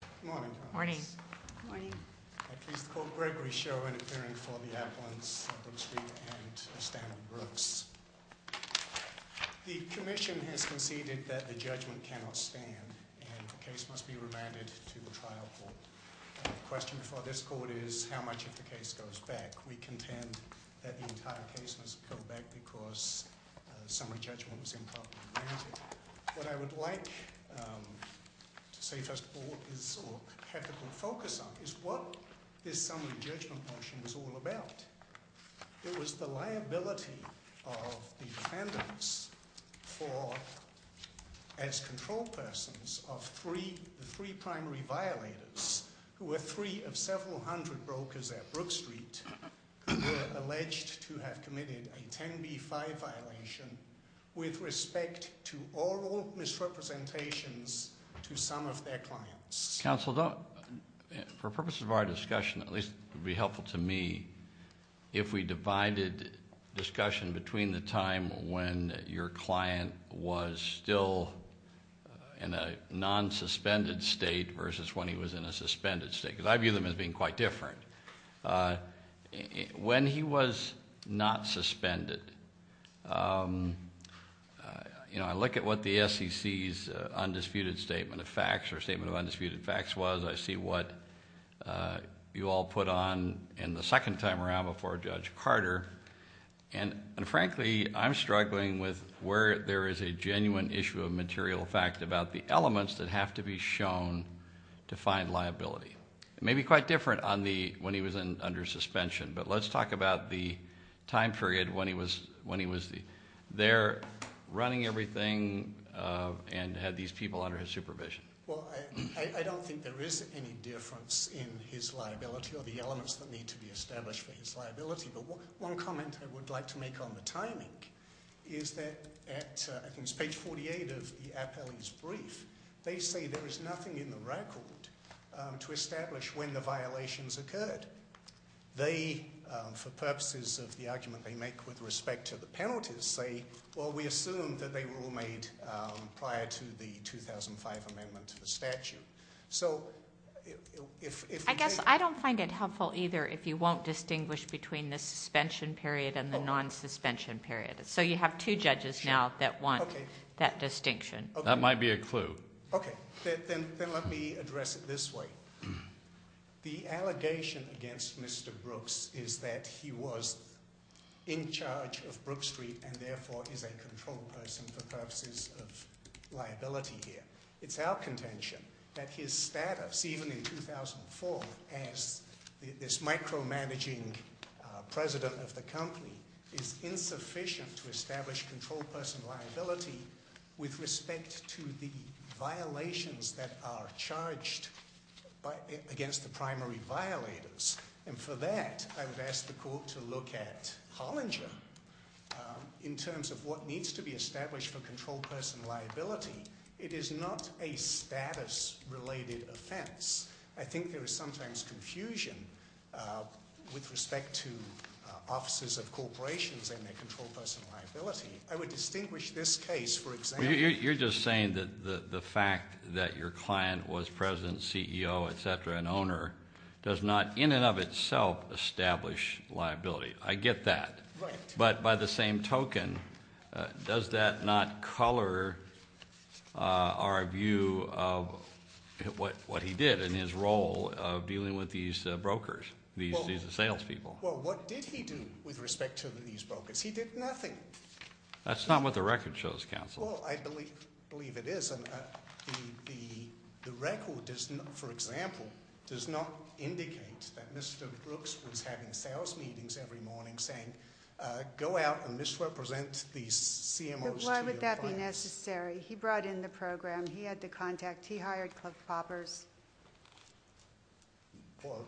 Good morning. I'm pleased to call Gregory Schoen appearing for the appellants Brookstreet and Stanley Brooks. The commission has conceded that the judgment cannot stand and the case must be remanded to the trial court. The question for this court is how much of the case goes back. We contend that the entire case must go back because the summary judgment was improperly granted. What I would like to say first of all is, or have a good focus on, is what this summary judgment motion was all about. It was the liability of defendants for, as control persons, of three primary violators, who were three of several hundred brokers at Brookstreet, who were alleged to have committed a 10B5 violation with respect to oral misrepresentations to some of their clients. Counsel, for purposes of our discussion, at least it would be helpful to me, if we divided discussion between the time when your client was still in a non-suspended state versus when he was in a suspended state. Because I view them as being quite different. When he was not suspended, I look at what the SEC's undisputed statement of facts or statement of undisputed facts was, I see what you all put on in the second time around before Judge Carter. And frankly, I'm struggling with where there is a genuine issue of material fact about the elements that have to be shown to find liability. Maybe quite different when he was under suspension. But let's talk about the time period when he was there running everything and had these people under his supervision. Well, I don't think there is any difference in his liability or the elements that need to be established for his liability. But one comment I would like to make on the timing is that at, I think it's page 48 of the appellee's brief, they say there is nothing in the record to establish when the violations occurred. They, for purposes of the argument they make with respect to the penalties, say, well, we assume that they were all made prior to the 2005 amendment to the statute. So if- I guess I don't find it helpful either if you won't distinguish between the suspension period and the non-suspension period. So you have two judges now that want that distinction. That might be a clue. Okay. Then let me address it this way. The allegation against Mr. Brooks is that he was in charge of Brook Street and therefore is a control person for purposes of liability here. It's our contention that his status, even in 2004, as this micromanaging president of the company, is insufficient to establish control person liability with respect to the violations that are charged against the primary violators. And for that, I would ask the court to look at Hollinger in terms of what needs to be established for control person liability. It is not a status-related offense. I think there is sometimes confusion with respect to offices of corporations and their control person liability. I would distinguish this case, for example- You're just saying that the fact that your client was president, CEO, etc., and owner does not in and of itself establish liability. I get that. Right. But by the same token, does that not color our view of what he did in his role of dealing with these brokers, these salespeople? Well, what did he do with respect to these brokers? He did nothing. That's not what the record shows, counsel. Well, I believe it is. The record, for example, does not indicate that Mr. Brooks was having sales meetings every morning saying, go out and misrepresent these CMOs to your clients. Why would that be necessary? He brought in the program. He had the contact. He hired club poppers. Well,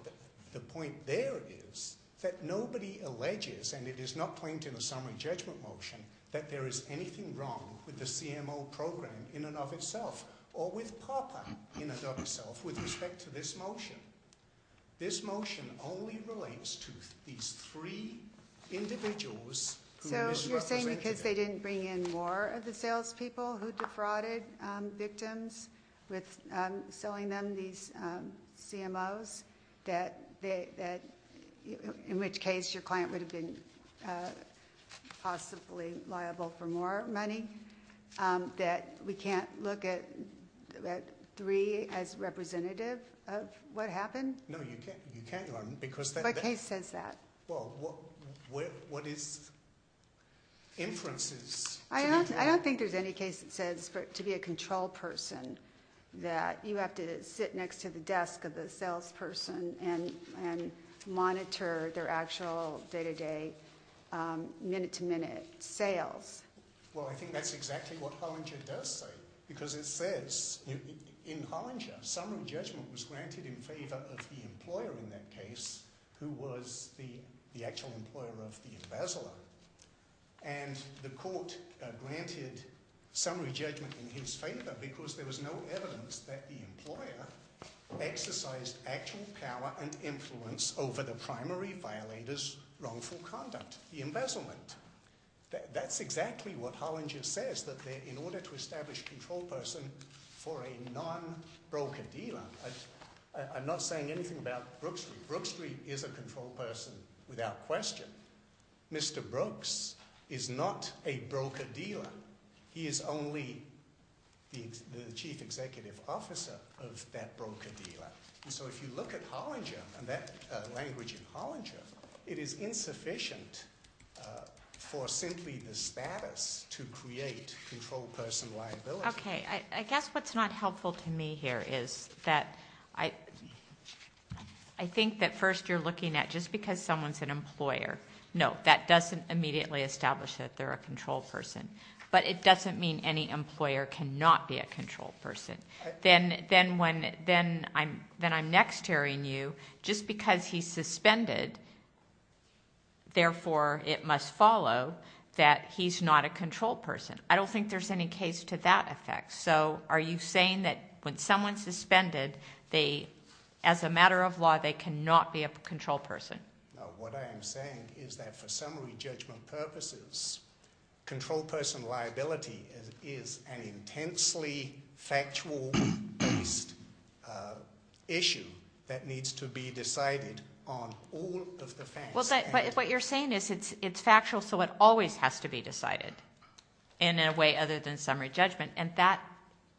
the point there is that nobody alleges, and it is not claimed in the summary judgment motion, that there is anything wrong with the CMO program in and of itself or with popper in and of itself with respect to this motion. This motion only relates to these three individuals who misrepresented him. Because they didn't bring in more of the salespeople who defrauded victims with selling them these CMOs, in which case your client would have been possibly liable for more money, that we can't look at three as representative of what happened? No, you can't, Your Honor. What case says that? Well, what is inferences? I don't think there's any case that says to be a control person that you have to sit next to the desk of the salesperson and monitor their actual day-to-day, minute-to-minute sales. Well, I think that's exactly what Hollinger does say. Because it says in Hollinger, summary judgment was granted in favor of the employer in that case, who was the actual employer of the embezzler. And the court granted summary judgment in his favor because there was no evidence that the employer exercised actual power and influence over the primary violator's wrongful conduct, the embezzlement. That's exactly what Hollinger says, that in order to establish control person for a non-broker-dealer, I'm not saying anything about Brook Street. Brook Street is a control person without question. Mr. Brooks is not a broker-dealer. He is only the chief executive officer of that broker-dealer. And so if you look at Hollinger and that language in Hollinger, it is insufficient for simply the status to create control person liability. Okay. I guess what's not helpful to me here is that I think that first you're looking at just because someone's an employer, no, that doesn't immediately establish that they're a control person. But it doesn't mean any employer cannot be a control person. Then when I'm next hearing you, just because he's suspended, therefore, it must follow that he's not a control person. I don't think there's any case to that effect. So are you saying that when someone's suspended, as a matter of law, they cannot be a control person? No, what I am saying is that for summary judgment purposes, control person liability is an intensely factual-based issue that needs to be decided on all of the facts. But what you're saying is it's factual so it always has to be decided in a way other than summary judgment, and that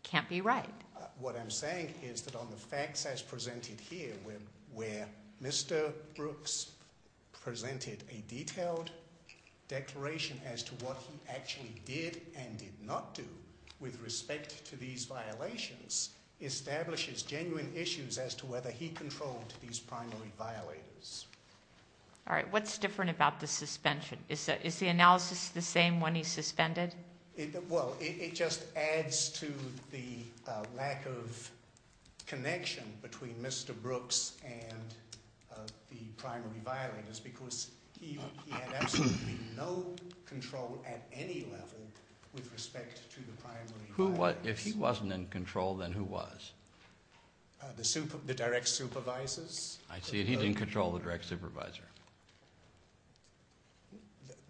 can't be right. What I'm saying is that on the facts as presented here, where Mr. Brooks presented a detailed declaration as to what he actually did and did not do with respect to these violations, establishes genuine issues as to whether he controlled these primary violators. All right. What's different about the suspension? Is the analysis the same when he's suspended? Well, it just adds to the lack of connection between Mr. Brooks and the primary violators because he had absolutely no control at any level with respect to the primary violators. If he wasn't in control, then who was? The direct supervisors. I see. He didn't control the direct supervisor.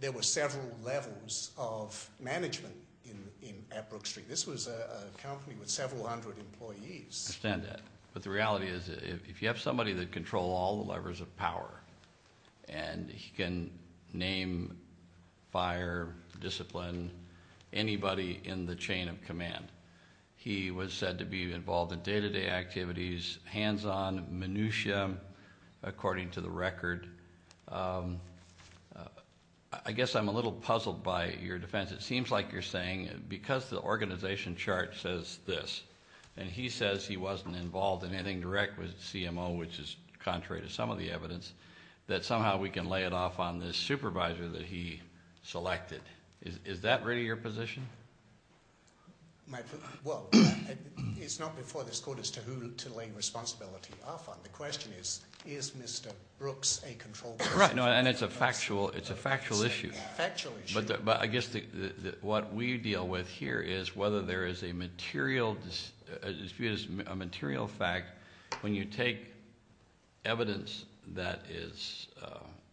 There were several levels of management at Brook Street. This was a company with several hundred employees. I understand that. But the reality is if you have somebody that can control all the levers of power, and he can name, fire, discipline anybody in the chain of command, he was said to be involved in day-to-day activities, hands-on, minutiae, according to the record. I guess I'm a little puzzled by your defense. It seems like you're saying because the organization chart says this, and he says he wasn't involved in anything direct with CMO, which is contrary to some of the evidence, that somehow we can lay it off on this supervisor that he selected. Is that really your position? Well, it's not before this court as to who to lay responsibility off on. The question is, is Mr. Brooks a control person? And it's a factual issue. It's a factual issue. But I guess what we deal with here is whether there is a material fact when you take evidence that is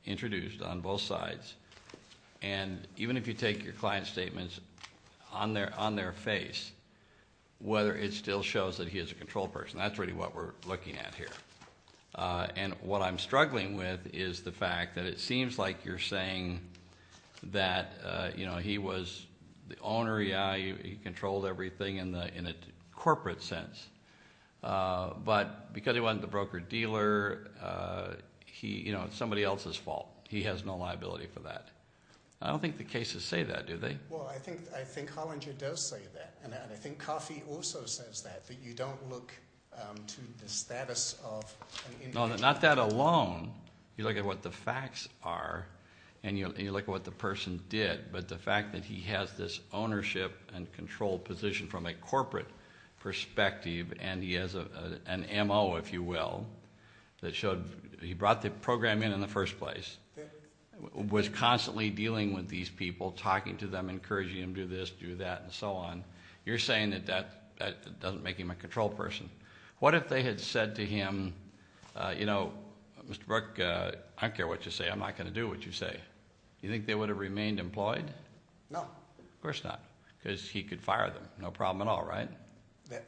introduced on both sides, and even if you take your client's statements on their face, whether it still shows that he is a control person. That's really what we're looking at here. And what I'm struggling with is the fact that it seems like you're saying that, you know, he was the owner. Yeah, he controlled everything in a corporate sense. But because he wasn't the broker-dealer, it's somebody else's fault. He has no liability for that. I don't think the cases say that, do they? Well, I think Hollinger does say that. And I think Coffey also says that, that you don't look to the status of an individual. No, not that alone. You look at what the facts are and you look at what the person did. But the fact that he has this ownership and control position from a corporate perspective and he has an M.O., if you will, that showed he brought the program in in the first place, was constantly dealing with these people, talking to them, encouraging them to do this, do that, and so on. You're saying that that doesn't make him a control person. What if they had said to him, you know, Mr. Brook, I don't care what you say. I'm not going to do what you say. Do you think they would have remained employed? No. Of course not, because he could fire them, no problem at all, right?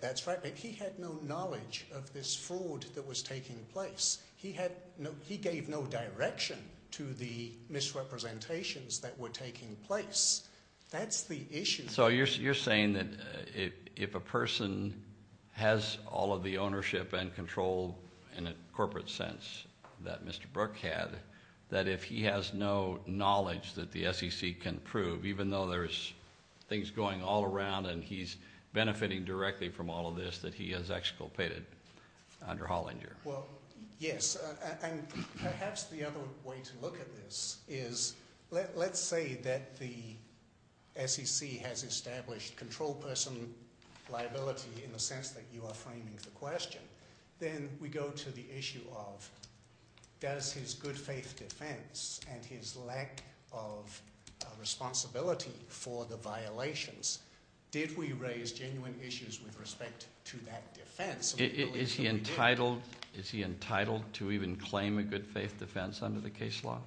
That's right. He had no knowledge of this fraud that was taking place. He gave no direction to the misrepresentations that were taking place. That's the issue. So you're saying that if a person has all of the ownership and control in a corporate sense that Mr. Brook had, that if he has no knowledge that the SEC can prove, even though there's things going all around and he's benefiting directly from all of this, that he has exculpated under Hollinger? Well, yes, and perhaps the other way to look at this is let's say that the SEC has established control person liability in the sense that you are framing the question. Then we go to the issue of does his good faith defense and his lack of responsibility for the violations, did we raise genuine issues with respect to that defense? Absolutely. Is he entitled to even claim a good faith defense under the case law?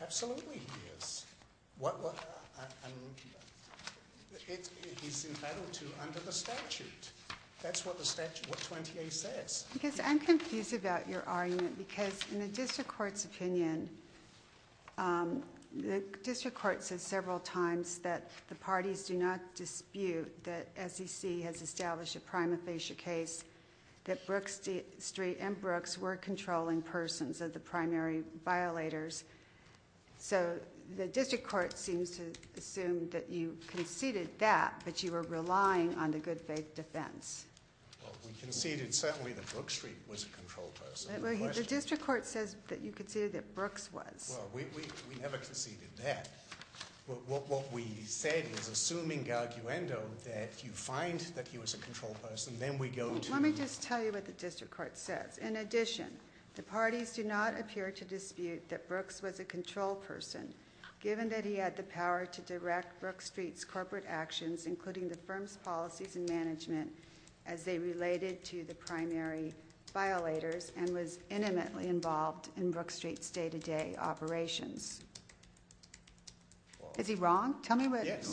Absolutely he is. He's entitled to under the statute. That's what the statute, what 20A says. Because I'm confused about your argument because in the district court's opinion, the district court says several times that the parties do not dispute that SEC has established a prima facie case, that Brooks Street and Brooks were controlling persons of the primary violators. So the district court seems to assume that you conceded that, but you were relying on the good faith defense. We conceded certainly that Brooks Street was a control person. The district court says that you conceded that Brooks was. Well, we never conceded that. What we said is assuming arguendo that you find that he was a control person, then we go to Let me just tell you what the district court says. In addition, the parties do not appear to dispute that Brooks was a control person given that he had the power to direct Brooks Street's corporate actions, including the firm's policies and management as they related to the primary violators and was intimately involved in Brooks Street's day-to-day operations. Is he wrong? Tell me what- Yes.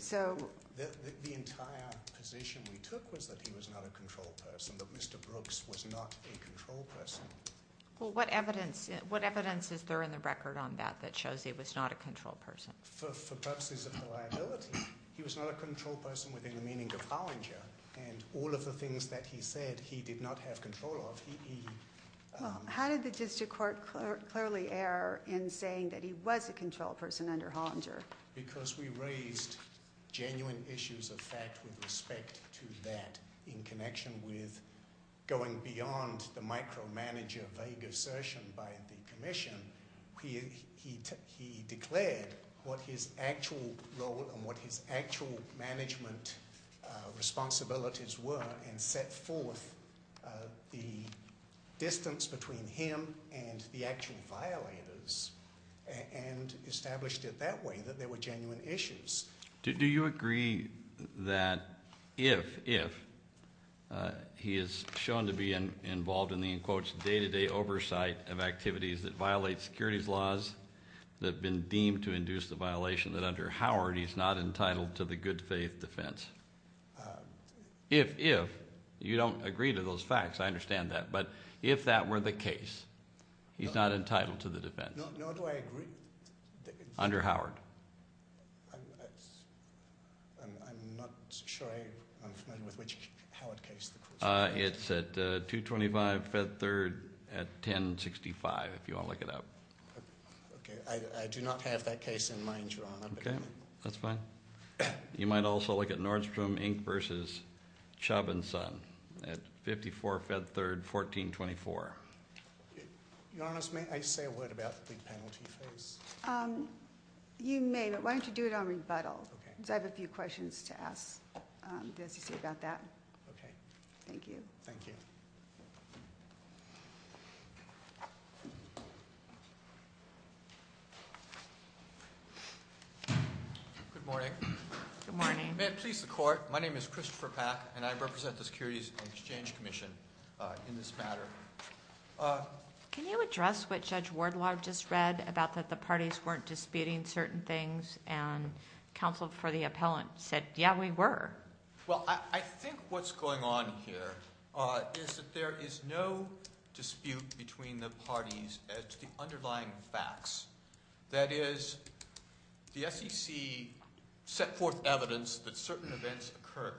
So- The entire position we took was that he was not a control person, that Mr. Brooks was not a control person. Well, what evidence is there in the record on that that shows he was not a control person? For purposes of reliability, he was not a control person within the meaning of Hollinger, and all of the things that he said he did not have control of, he- How did the district court clearly err in saying that he was a control person under Hollinger? Because we raised genuine issues of fact with respect to that in connection with going beyond the micromanager vague assertion by the commission. He declared what his actual role and what his actual management responsibilities were and set forth the distance between him and the actual violators and established it that way, that there were genuine issues. Do you agree that if he is shown to be involved in the, in quotes, day-to-day oversight of activities that violate securities laws that have been deemed to induce the violation, that under Howard he's not entitled to the good faith defense? If, if, you don't agree to those facts, I understand that. But if that were the case, he's not entitled to the defense? No, I agree. Under Howard? I'm not sure I'm familiar with which Howard case. It's at 225 Fed Third at 1065, if you want to look it up. Okay, I do not have that case in mind, Your Honor. Okay, that's fine. You might also look at Nordstrom Inc. v. Chauvinson at 54 Fed Third, 1424. Your Honor, may I say a word about the big penalty phase? You may, but why don't you do it on rebuttal? Okay. Because I have a few questions to ask the SEC about that. Okay. Thank you. Thank you. Good morning. Good morning. May it please the Court, my name is Christopher Pack, and I represent the Securities and Exchange Commission in this matter. Can you address what Judge Wardlaw just read about that the parties weren't disputing certain things and counsel for the appellant said, yeah, we were? Well, I think what's going on here is that there is no dispute between the parties as to the underlying facts. That is, the SEC set forth evidence that certain events occurred.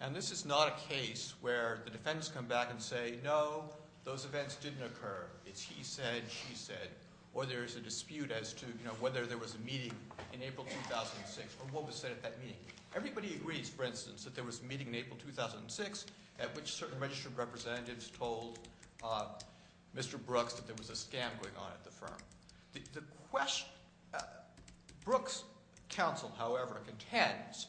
And this is not a case where the defendants come back and say, no, those events didn't occur. It's he said, she said. Or there's a dispute as to, you know, whether there was a meeting in April 2006 or what was said at that meeting. Everybody agrees, for instance, that there was a meeting in April 2006 at which certain registered representatives told Mr. Brooks that there was a scam going on at the firm. The question, Brooks' counsel, however, contends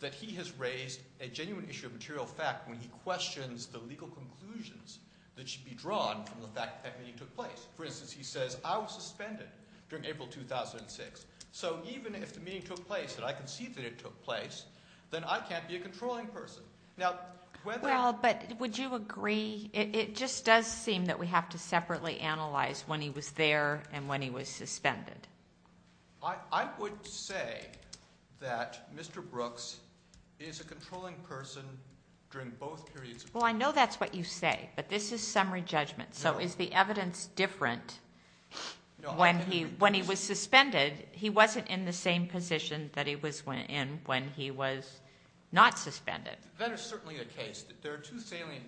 that he has raised a genuine issue of material fact when he questions the legal conclusions that should be drawn from the fact that that meeting took place. For instance, he says, I was suspended during April 2006. So even if the meeting took place and I can see that it took place, then I can't be a controlling person. Now, whether. Well, but would you agree? It just does seem that we have to separately analyze when he was there and when he was suspended. I would say that Mr. Brooks is a controlling person during both periods. Well, I know that's what you say, but this is summary judgment. So is the evidence different when he, when he was suspended, he wasn't in the same position that he was in when he was not suspended. That is certainly a case. There are two salient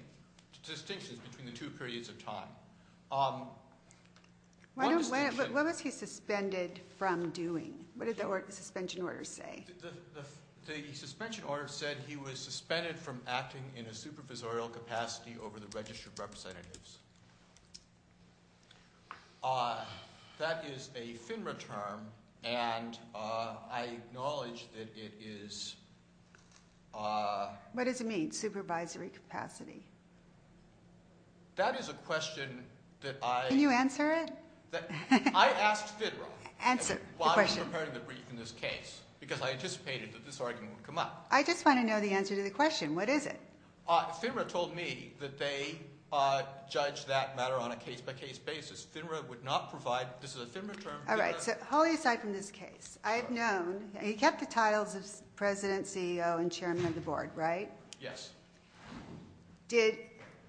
distinctions between the two periods of time. What was he suspended from doing? What did the suspension order say? The suspension order said he was suspended from acting in a supervisorial capacity over the registered representatives. That is a FINRA term. And I acknowledge that it is. What does it mean? Supervisory capacity? That is a question that I. Can you answer it? I asked FINRA. Answer the question. While I was preparing the brief in this case, because I anticipated that this argument would come up. I just want to know the answer to the question. What is it? FINRA told me that they judge that matter on a case by case basis. FINRA would not provide. This is a FINRA term. Holly, aside from this case, I have known. He kept the titles of president, CEO, and chairman of the board, right? Yes. Did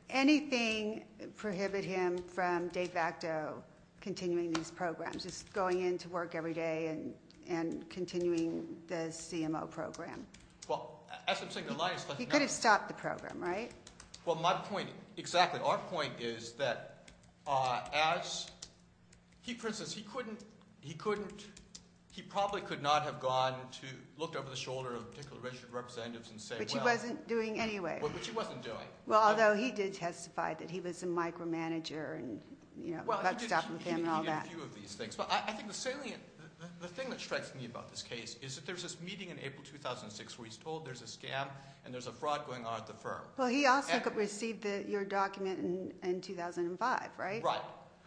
anything prohibit him from de facto continuing these programs, just going into work every day and continuing the CMO program? He could have stopped the program, right? Exactly. Our point is that, for instance, he probably could not have gone to look over the shoulder of a particular registered representative and say, well. Which he wasn't doing anyway. Which he wasn't doing. Although he did testify that he was a micromanager. He did a few of these things. I think the thing that strikes me about this case is that there's this meeting in April 2006 where he's told there's a scam and there's a fraud going on at the firm. Well, he also received your document in 2005, right? Right.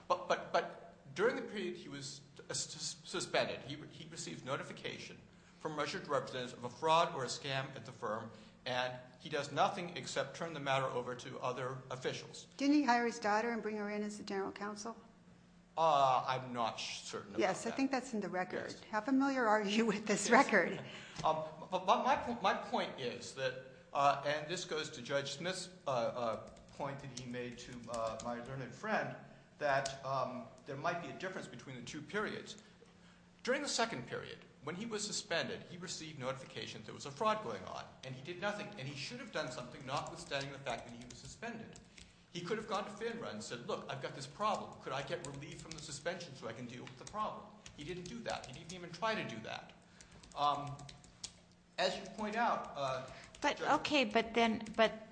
But during the period he was suspended, he received notification from a registered representative of a fraud or a scam at the firm, and he does nothing except turn the matter over to other officials. Didn't he hire his daughter and bring her in as the general counsel? I'm not certain about that. Yes. I think that's in the record. How familiar are you with this record? My point is that, and this goes to Judge Smith's point that he made to my learned friend, that there might be a difference between the two periods. During the second period, when he was suspended, he received notification that there was a fraud going on, and he did nothing. And he should have done something notwithstanding the fact that he was suspended. He could have gone to FINRA and said, look, I've got this problem. Could I get relief from the suspension so I can deal with the problem? He didn't do that. He didn't even try to do that. As you point out, Judge. Okay, but then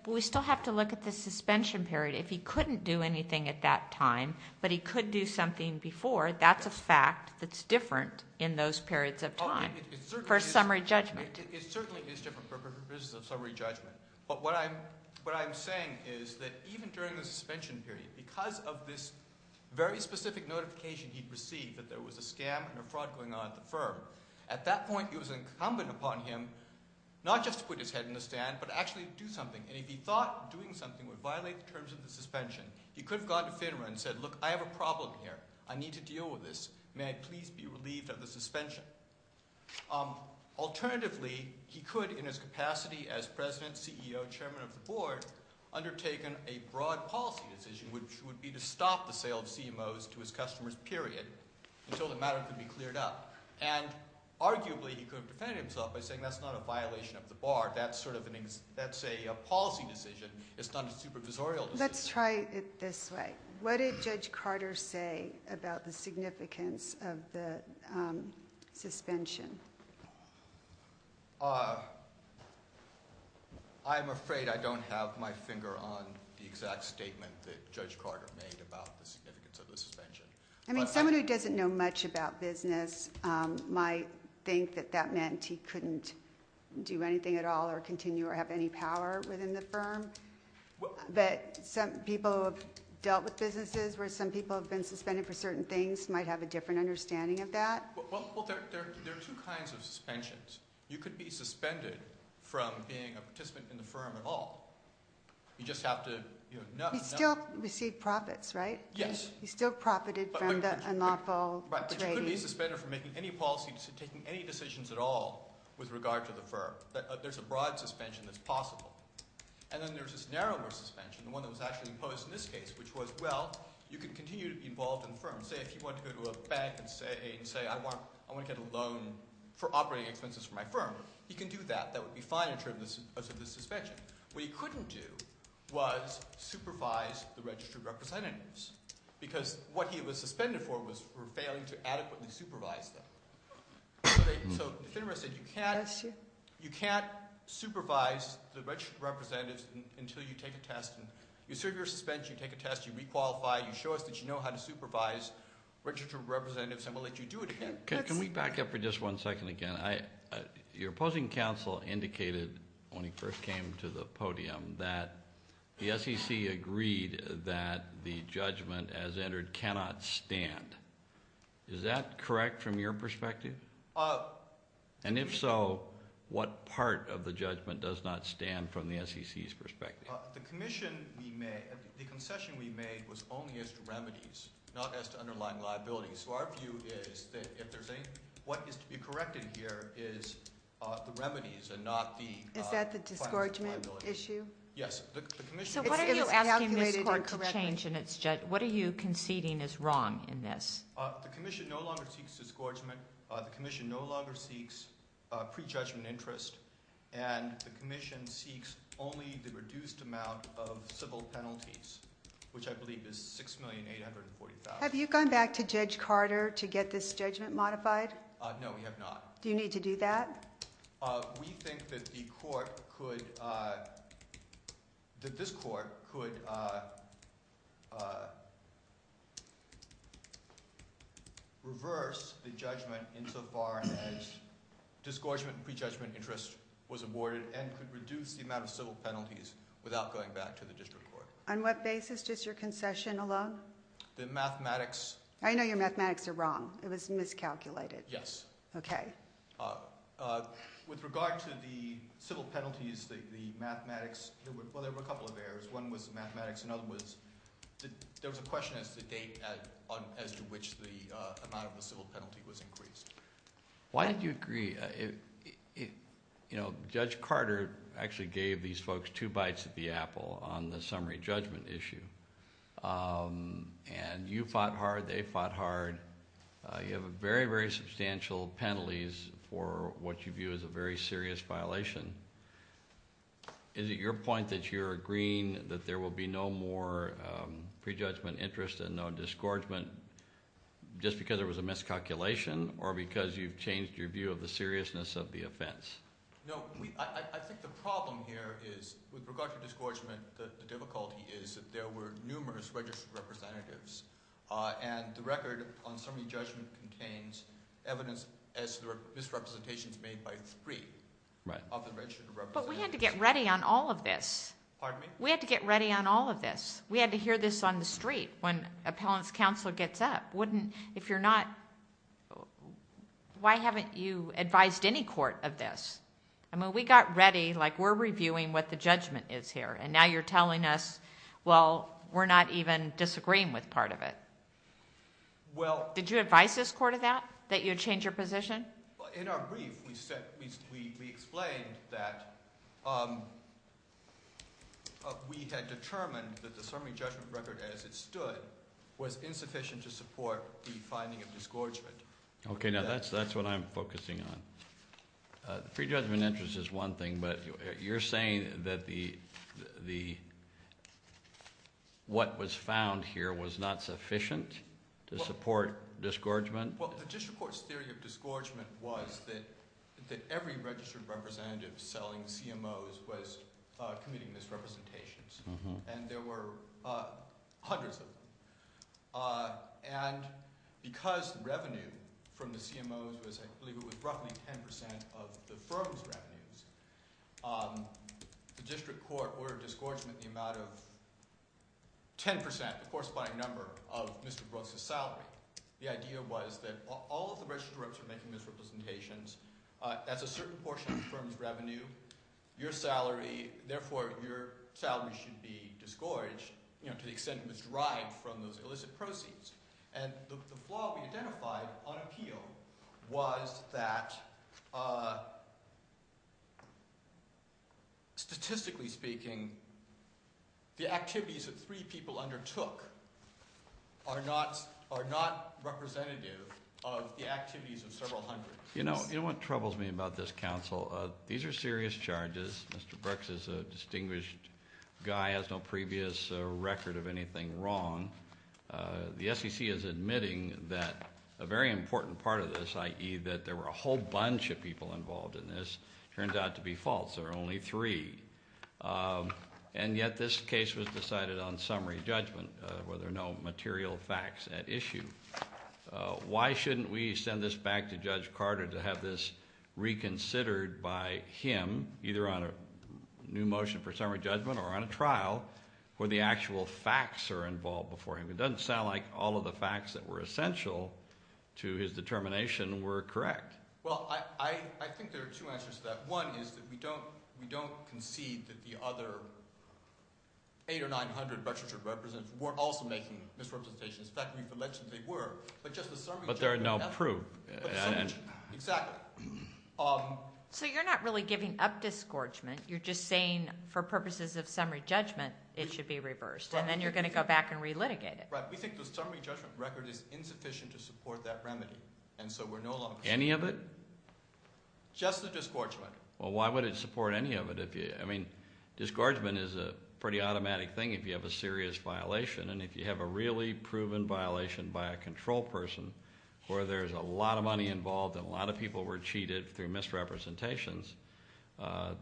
we still have to look at the suspension period. If he couldn't do anything at that time, but he could do something before, that's a fact that's different in those periods of time for summary judgment. It certainly is different for purposes of summary judgment. But what I'm saying is that even during the suspension period, because of this very specific notification he'd received that there was a fraud going on, at that point it was incumbent upon him not just to put his head in the stand, but actually do something. And if he thought doing something would violate the terms of the suspension, he could have gone to FINRA and said, look, I have a problem here. I need to deal with this. May I please be relieved of the suspension? Alternatively, he could, in his capacity as president, CEO, chairman of the board, undertaken a broad policy decision, which would be to stop the sale of CMOs to his customers, period, until the matter could be cleared up. And arguably he could have defended himself by saying that's not a violation of the bar, that's a policy decision, it's not a supervisorial decision. Let's try it this way. What did Judge Carter say about the significance of the suspension? I'm afraid I don't have my finger on the exact statement that Judge Carter made about the significance of the suspension. I mean, someone who doesn't know much about business might think that that meant he couldn't do anything at all or continue or have any power within the firm. But people who have dealt with businesses where some people have been suspended for certain things might have a different understanding of that. Well, there are two kinds of suspensions. You could be suspended from being a participant in the firm at all. You just have to know. He still received profits, right? Yes. He still profited from the en la pole trade. Right, but you couldn't be suspended from making any policy, taking any decisions at all with regard to the firm. There's a broad suspension that's possible. And then there's this narrower suspension, the one that was actually imposed in this case, which was, well, you can continue to be involved in the firm. Say if he wanted to go to a bank and say, I want to get a loan for operating expenses for my firm, he can do that. That would be fine in terms of the suspension. What he couldn't do was supervise the registered representatives because what he was suspended for was for failing to adequately supervise them. So FINRA said you can't supervise the registered representatives until you take a test. You serve your suspension, you take a test, you re-qualify, you show us that you know how to supervise registered representatives, and we'll let you do it again. Can we back up for just one second again? Your opposing counsel indicated when he first came to the podium that the SEC agreed that the judgment as entered cannot stand. Is that correct from your perspective? And if so, what part of the judgment does not stand from the SEC's perspective? The commission we made, the concession we made was only as to remedies, not as to underlying liabilities. So our view is that what is to be corrected here is the remedies and not the liabilities. Is that the disgorgement issue? Yes. So what are you asking this court to change in its judgment? What are you conceding is wrong in this? The commission no longer seeks disgorgement. The commission no longer seeks prejudgment interest. And the commission seeks only the reduced amount of civil penalties, which I believe is $6,840,000. Have you gone back to Judge Carter to get this judgment modified? No, we have not. Do you need to do that? We think that this court could reverse the judgment insofar as disgorgement and prejudgment interest was aborted and could reduce the amount of civil penalties without going back to the district court. On what basis does your concession allow? The mathematics. I know your mathematics are wrong. It was miscalculated. Yes. Okay. With regard to the civil penalties, the mathematics, well, there were a couple of errors. One was the mathematics. Another was there was a question as to the date as to which the amount of the civil penalty was increased. Why did you agree? You know, Judge Carter actually gave these folks two bites at the apple on the summary judgment issue. And you fought hard. They fought hard. You have very, very substantial penalties for what you view as a very serious violation. Is it your point that you're agreeing that there will be no more prejudgment interest and no disgorgement just because there was a miscalculation or because you've changed your view of the seriousness of the offense? No, I think the problem here is with regard to disgorgement, the difficulty is that there were numerous registered representatives, and the record on summary judgment contains evidence as to the misrepresentations made by three of the registered representatives. But we had to get ready on all of this. Pardon me? We had to get ready on all of this. We had to hear this on the street when appellant's counsel gets up. Wouldn't, if you're not, why haven't you advised any court of this? I mean, we got ready like we're reviewing what the judgment is here, and now you're telling us, well, we're not even disagreeing with part of it. Did you advise this court of that, that you would change your position? In our brief, we explained that we had determined that the summary judgment record as it stood was insufficient to support the finding of disgorgement. Okay, now that's what I'm focusing on. The pre-judgment interest is one thing, but you're saying that what was found here was not sufficient to support disgorgement? Well, the district court's theory of disgorgement was that every registered representative selling CMOs was committing misrepresentations, and there were hundreds of them. And because revenue from the CMOs was, I believe it was roughly 10% of the firm's revenues, the district court ordered disgorgement in the amount of 10%, the corresponding number of Mr. Brooks's salary. The idea was that all of the registered representatives were making misrepresentations. That's a certain portion of the firm's revenue. Therefore, your salary should be disgorged to the extent it was derived from those illicit proceeds. And the flaw we identified on appeal was that statistically speaking, the activities that three people undertook are not representative of the activities of several hundred. You know what troubles me about this, counsel? These are serious charges. Mr. Brooks is a distinguished guy, has no previous record of anything wrong. The SEC is admitting that a very important part of this, i.e. that there were a whole bunch of people involved in this, turns out to be false. There are only three. And yet this case was decided on summary judgment where there are no material facts at issue. Why shouldn't we send this back to Judge Carter to have this reconsidered by him, either on a new motion for summary judgment or on a trial where the actual facts are involved before him? It doesn't sound like all of the facts that were essential to his determination were correct. Well, I think there are two answers to that. One is that we don't concede that the other 800 or 900 registered representatives were also making misrepresentations. In fact, we've alleged that they were, but just the summary judgment doesn't. But there are no proof. Exactly. So you're not really giving up disgorgement. You're just saying for purposes of summary judgment it should be reversed, and then you're going to go back and relitigate it. Right. We think the summary judgment record is insufficient to support that remedy, and so we're no longer – Any of it? Just the disgorgement. Well, why would it support any of it? I mean, disgorgement is a pretty automatic thing if you have a serious violation, and if you have a really proven violation by a control person where there's a lot of money involved and a lot of people were cheated through misrepresentations,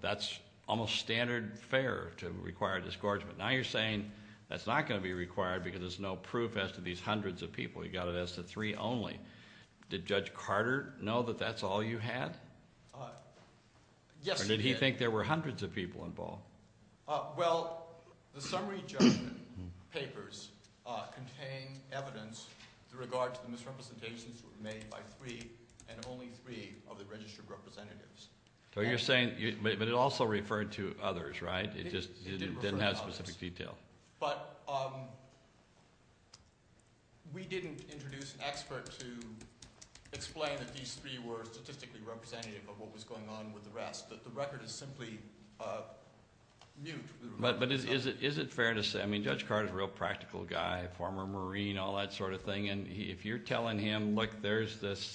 that's almost standard fare to require disgorgement. Now you're saying that's not going to be required because there's no proof as to these hundreds of people. You've got it as to three only. Did Judge Carter know that that's all you had? Yes, he did. Or did he think there were hundreds of people involved? Well, the summary judgment papers contain evidence with regard to the misrepresentations that were made by three and only three of the registered representatives. So you're saying – but it also referred to others, right? It just didn't have specific detail. But we didn't introduce an expert to explain that these three were statistically representative of what was going on with the rest. The record is simply mute. But is it fair to say – I mean, Judge Carter is a real practical guy, former Marine, all that sort of thing, and if you're telling him, look, there's this –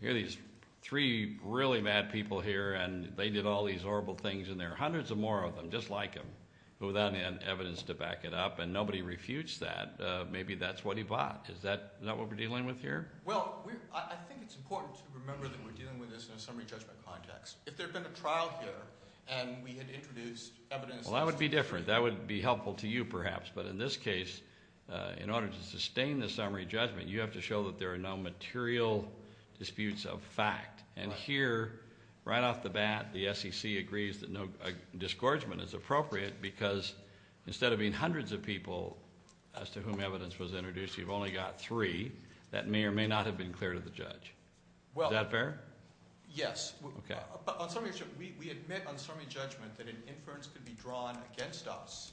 here are these three really bad people here, and they did all these horrible things, and there are hundreds more of them just like him who then had evidence to back it up, and nobody refutes that. Maybe that's what he bought. Is that not what we're dealing with here? Well, I think it's important to remember that we're dealing with this in a summary judgment context. If there had been a trial here and we had introduced evidence – Well, that would be different. That would be helpful to you, perhaps. But in this case, in order to sustain the summary judgment, you have to show that there are no material disputes of fact. And here, right off the bat, the SEC agrees that no disgorgement is appropriate because instead of being hundreds of people as to whom evidence was introduced, you've only got three that may or may not have been clear to the judge. Is that fair? Yes. Okay. But on summary judgment, we admit on summary judgment that an inference could be drawn against us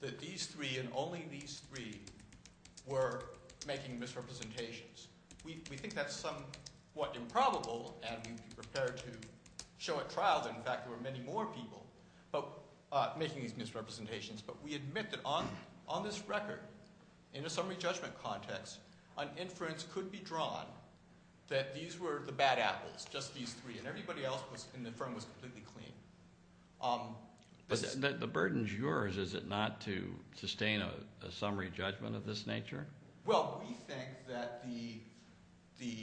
that these three and only these three were making misrepresentations. We think that's somewhat improbable, and we'd be prepared to show at trial that, in fact, there were many more people making these misrepresentations. But we admit that on this record, in a summary judgment context, an inference could be drawn that these were the bad apples, just these three, and everybody else in the firm was completely clean. But the burden's yours, is it not, to sustain a summary judgment of this nature? Well, we think that the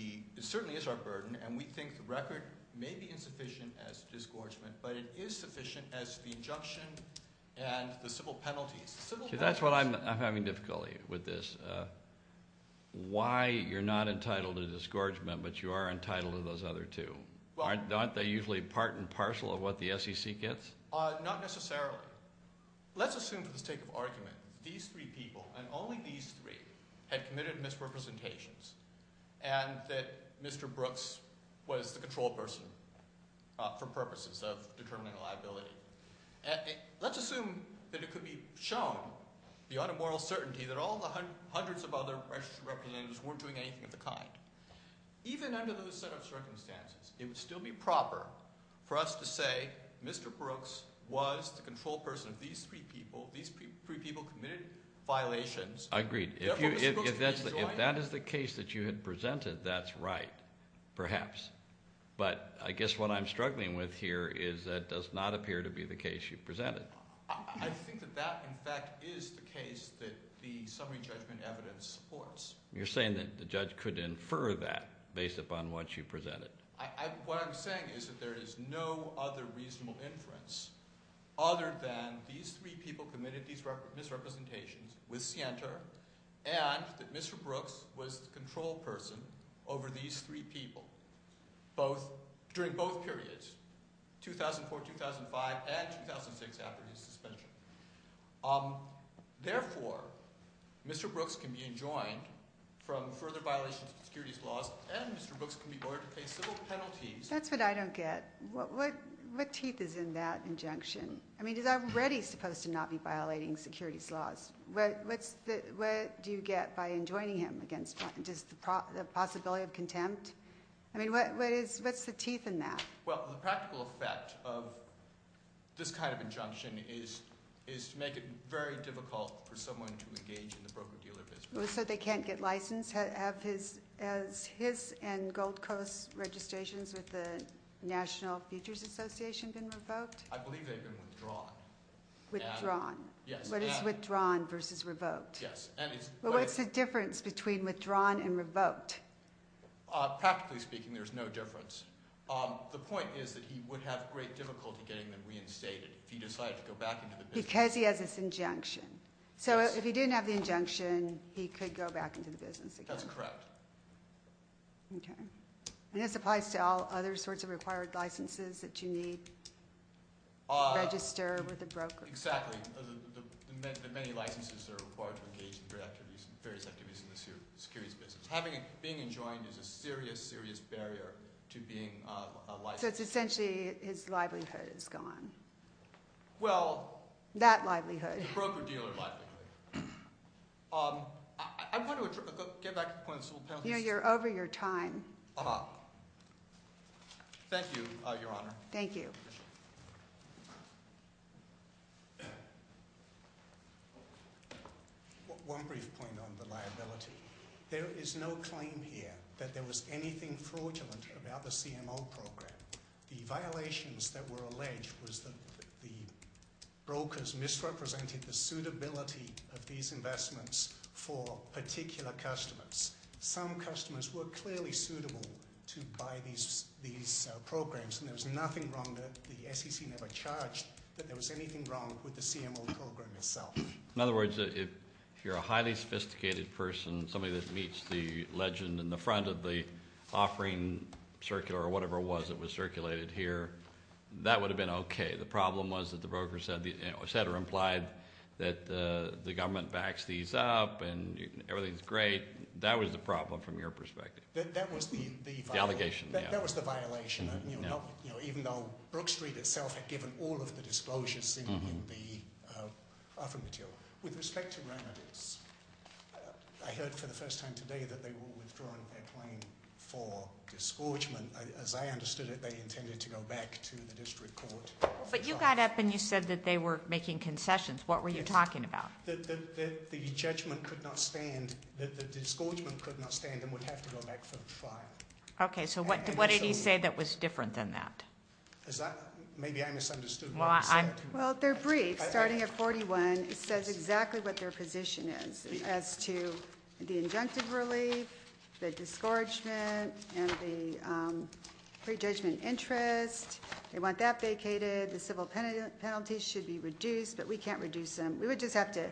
– it certainly is our burden, and we think the record may be insufficient as to disgorgement, but it is sufficient as to the injunction and the civil penalties. That's what I'm having difficulty with this, why you're not entitled to disgorgement but you are entitled to those other two. Aren't they usually part and parcel of what the SEC gets? Not necessarily. Let's assume for the sake of argument that these three people and only these three had committed misrepresentations and that Mr. Brooks was the control person for purposes of determining liability. Let's assume that it could be shown beyond a moral certainty that all the hundreds of other registered representatives weren't doing anything of the kind. Even under those set of circumstances, it would still be proper for us to say Mr. Brooks was the control person of these three people. These three people committed violations. Agreed. If that is the case that you had presented, that's right, perhaps. But I guess what I'm struggling with here is that does not appear to be the case you presented. I think that that, in fact, is the case that the summary judgment evidence supports. You're saying that the judge could infer that based upon what you presented. What I'm saying is that there is no other reasonable inference other than these three people committed these misrepresentations with Sienta and that Mr. Brooks was the control person over these three people during both periods, 2004, 2005, and 2006 after his suspension. Therefore, Mr. Brooks can be enjoined from further violations of securities laws and Mr. Brooks can be ordered to pay civil penalties. That's what I don't get. What teeth is in that injunction? I mean he's already supposed to not be violating securities laws. What do you get by enjoining him against – just the possibility of contempt? I mean what is – what's the teeth in that? Well, the practical effect of this kind of injunction is to make it very difficult for someone to engage in the broker-dealer business. So they can't get license? Have his and Gold Coast's registrations with the National Futures Association been revoked? I believe they've been withdrawn. Withdrawn? Yes. What is withdrawn versus revoked? Yes. Well, what's the difference between withdrawn and revoked? Practically speaking, there's no difference. The point is that he would have great difficulty getting them reinstated if he decided to go back into the business. Because he has this injunction. So if he didn't have the injunction, he could go back into the business again? That's correct. Okay. And this applies to all other sorts of required licenses that you need to register with a broker? Exactly. The many licenses that are required to engage in various activities in the securities business. Being enjoined is a serious, serious barrier to being a licensed broker. So it's essentially his livelihood is gone. Well. That livelihood. The broker-dealer livelihood. I want to get back to the point of the civil penalty system. You're over your time. Thank you, Your Honor. Thank you. One brief point on the liability. There is no claim here that there was anything fraudulent about the CMO program. The violations that were alleged was that the brokers misrepresented the suitability of these investments for particular customers. Some customers were clearly suitable to buy these programs. And there was nothing wrong with it. The SEC never charged that there was anything wrong with the CMO program itself. In other words, if you're a highly sophisticated person, somebody that meets the legend in the front of the offering circuit, or whatever it was that was circulated here, that would have been okay. The problem was that the broker said or implied that the government backs these up and everything's great. That was the problem from your perspective. That was the violation. The allegation. Even though Brook Street itself had given all of the disclosures in the offering material. With respect to Remedix, I heard for the first time today that they were withdrawing their claim for disgorgement, as I understood it, they intended to go back to the district court. But you got up and you said that they were making concessions. What were you talking about? That the judgment could not stand, that the disgorgement could not stand and would have to go back for a trial. Okay, so what did he say that was different than that? Maybe I misunderstood what he said. Well, their brief, starting at 41, says exactly what their position is as to the injunctive relief, the disgorgement, and the prejudgment interest. They want that vacated. The civil penalty should be reduced, but we can't reduce them. We would just have to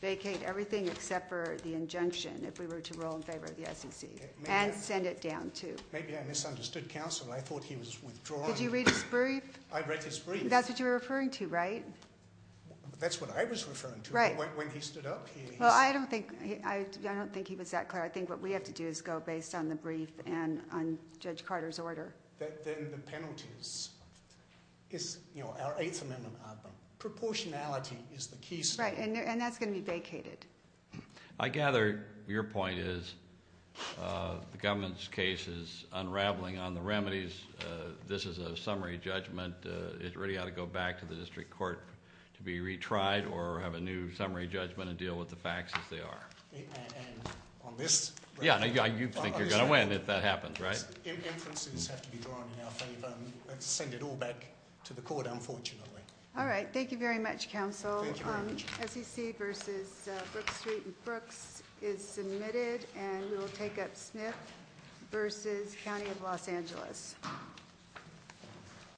vacate everything except for the injunction if we were to roll in favor of the SEC. And send it down, too. Maybe I misunderstood counsel. I thought he was withdrawing. Did you read his brief? I read his brief. That's what you're referring to, right? That's what I was referring to. Right. When he stood up. Well, I don't think he was that clear. I think what we have to do is go based on the brief and on Judge Carter's order. Then the penalties is, you know, our Eighth Amendment. Proportionality is the key statement. Right, and that's going to be vacated. I gather your point is the government's case is unraveling on the remedies. This is a summary judgment. It really ought to go back to the district court to be retried or have a new summary judgment and deal with the facts as they are. And on this. Yeah, you think you're going to win if that happens, right? Inferences have to be drawn in our favor and send it all back to the court, unfortunately. Thank you very much. CCC versus Brooks Street and Brooks is submitted, and we'll take up Smith versus County of Los Angeles.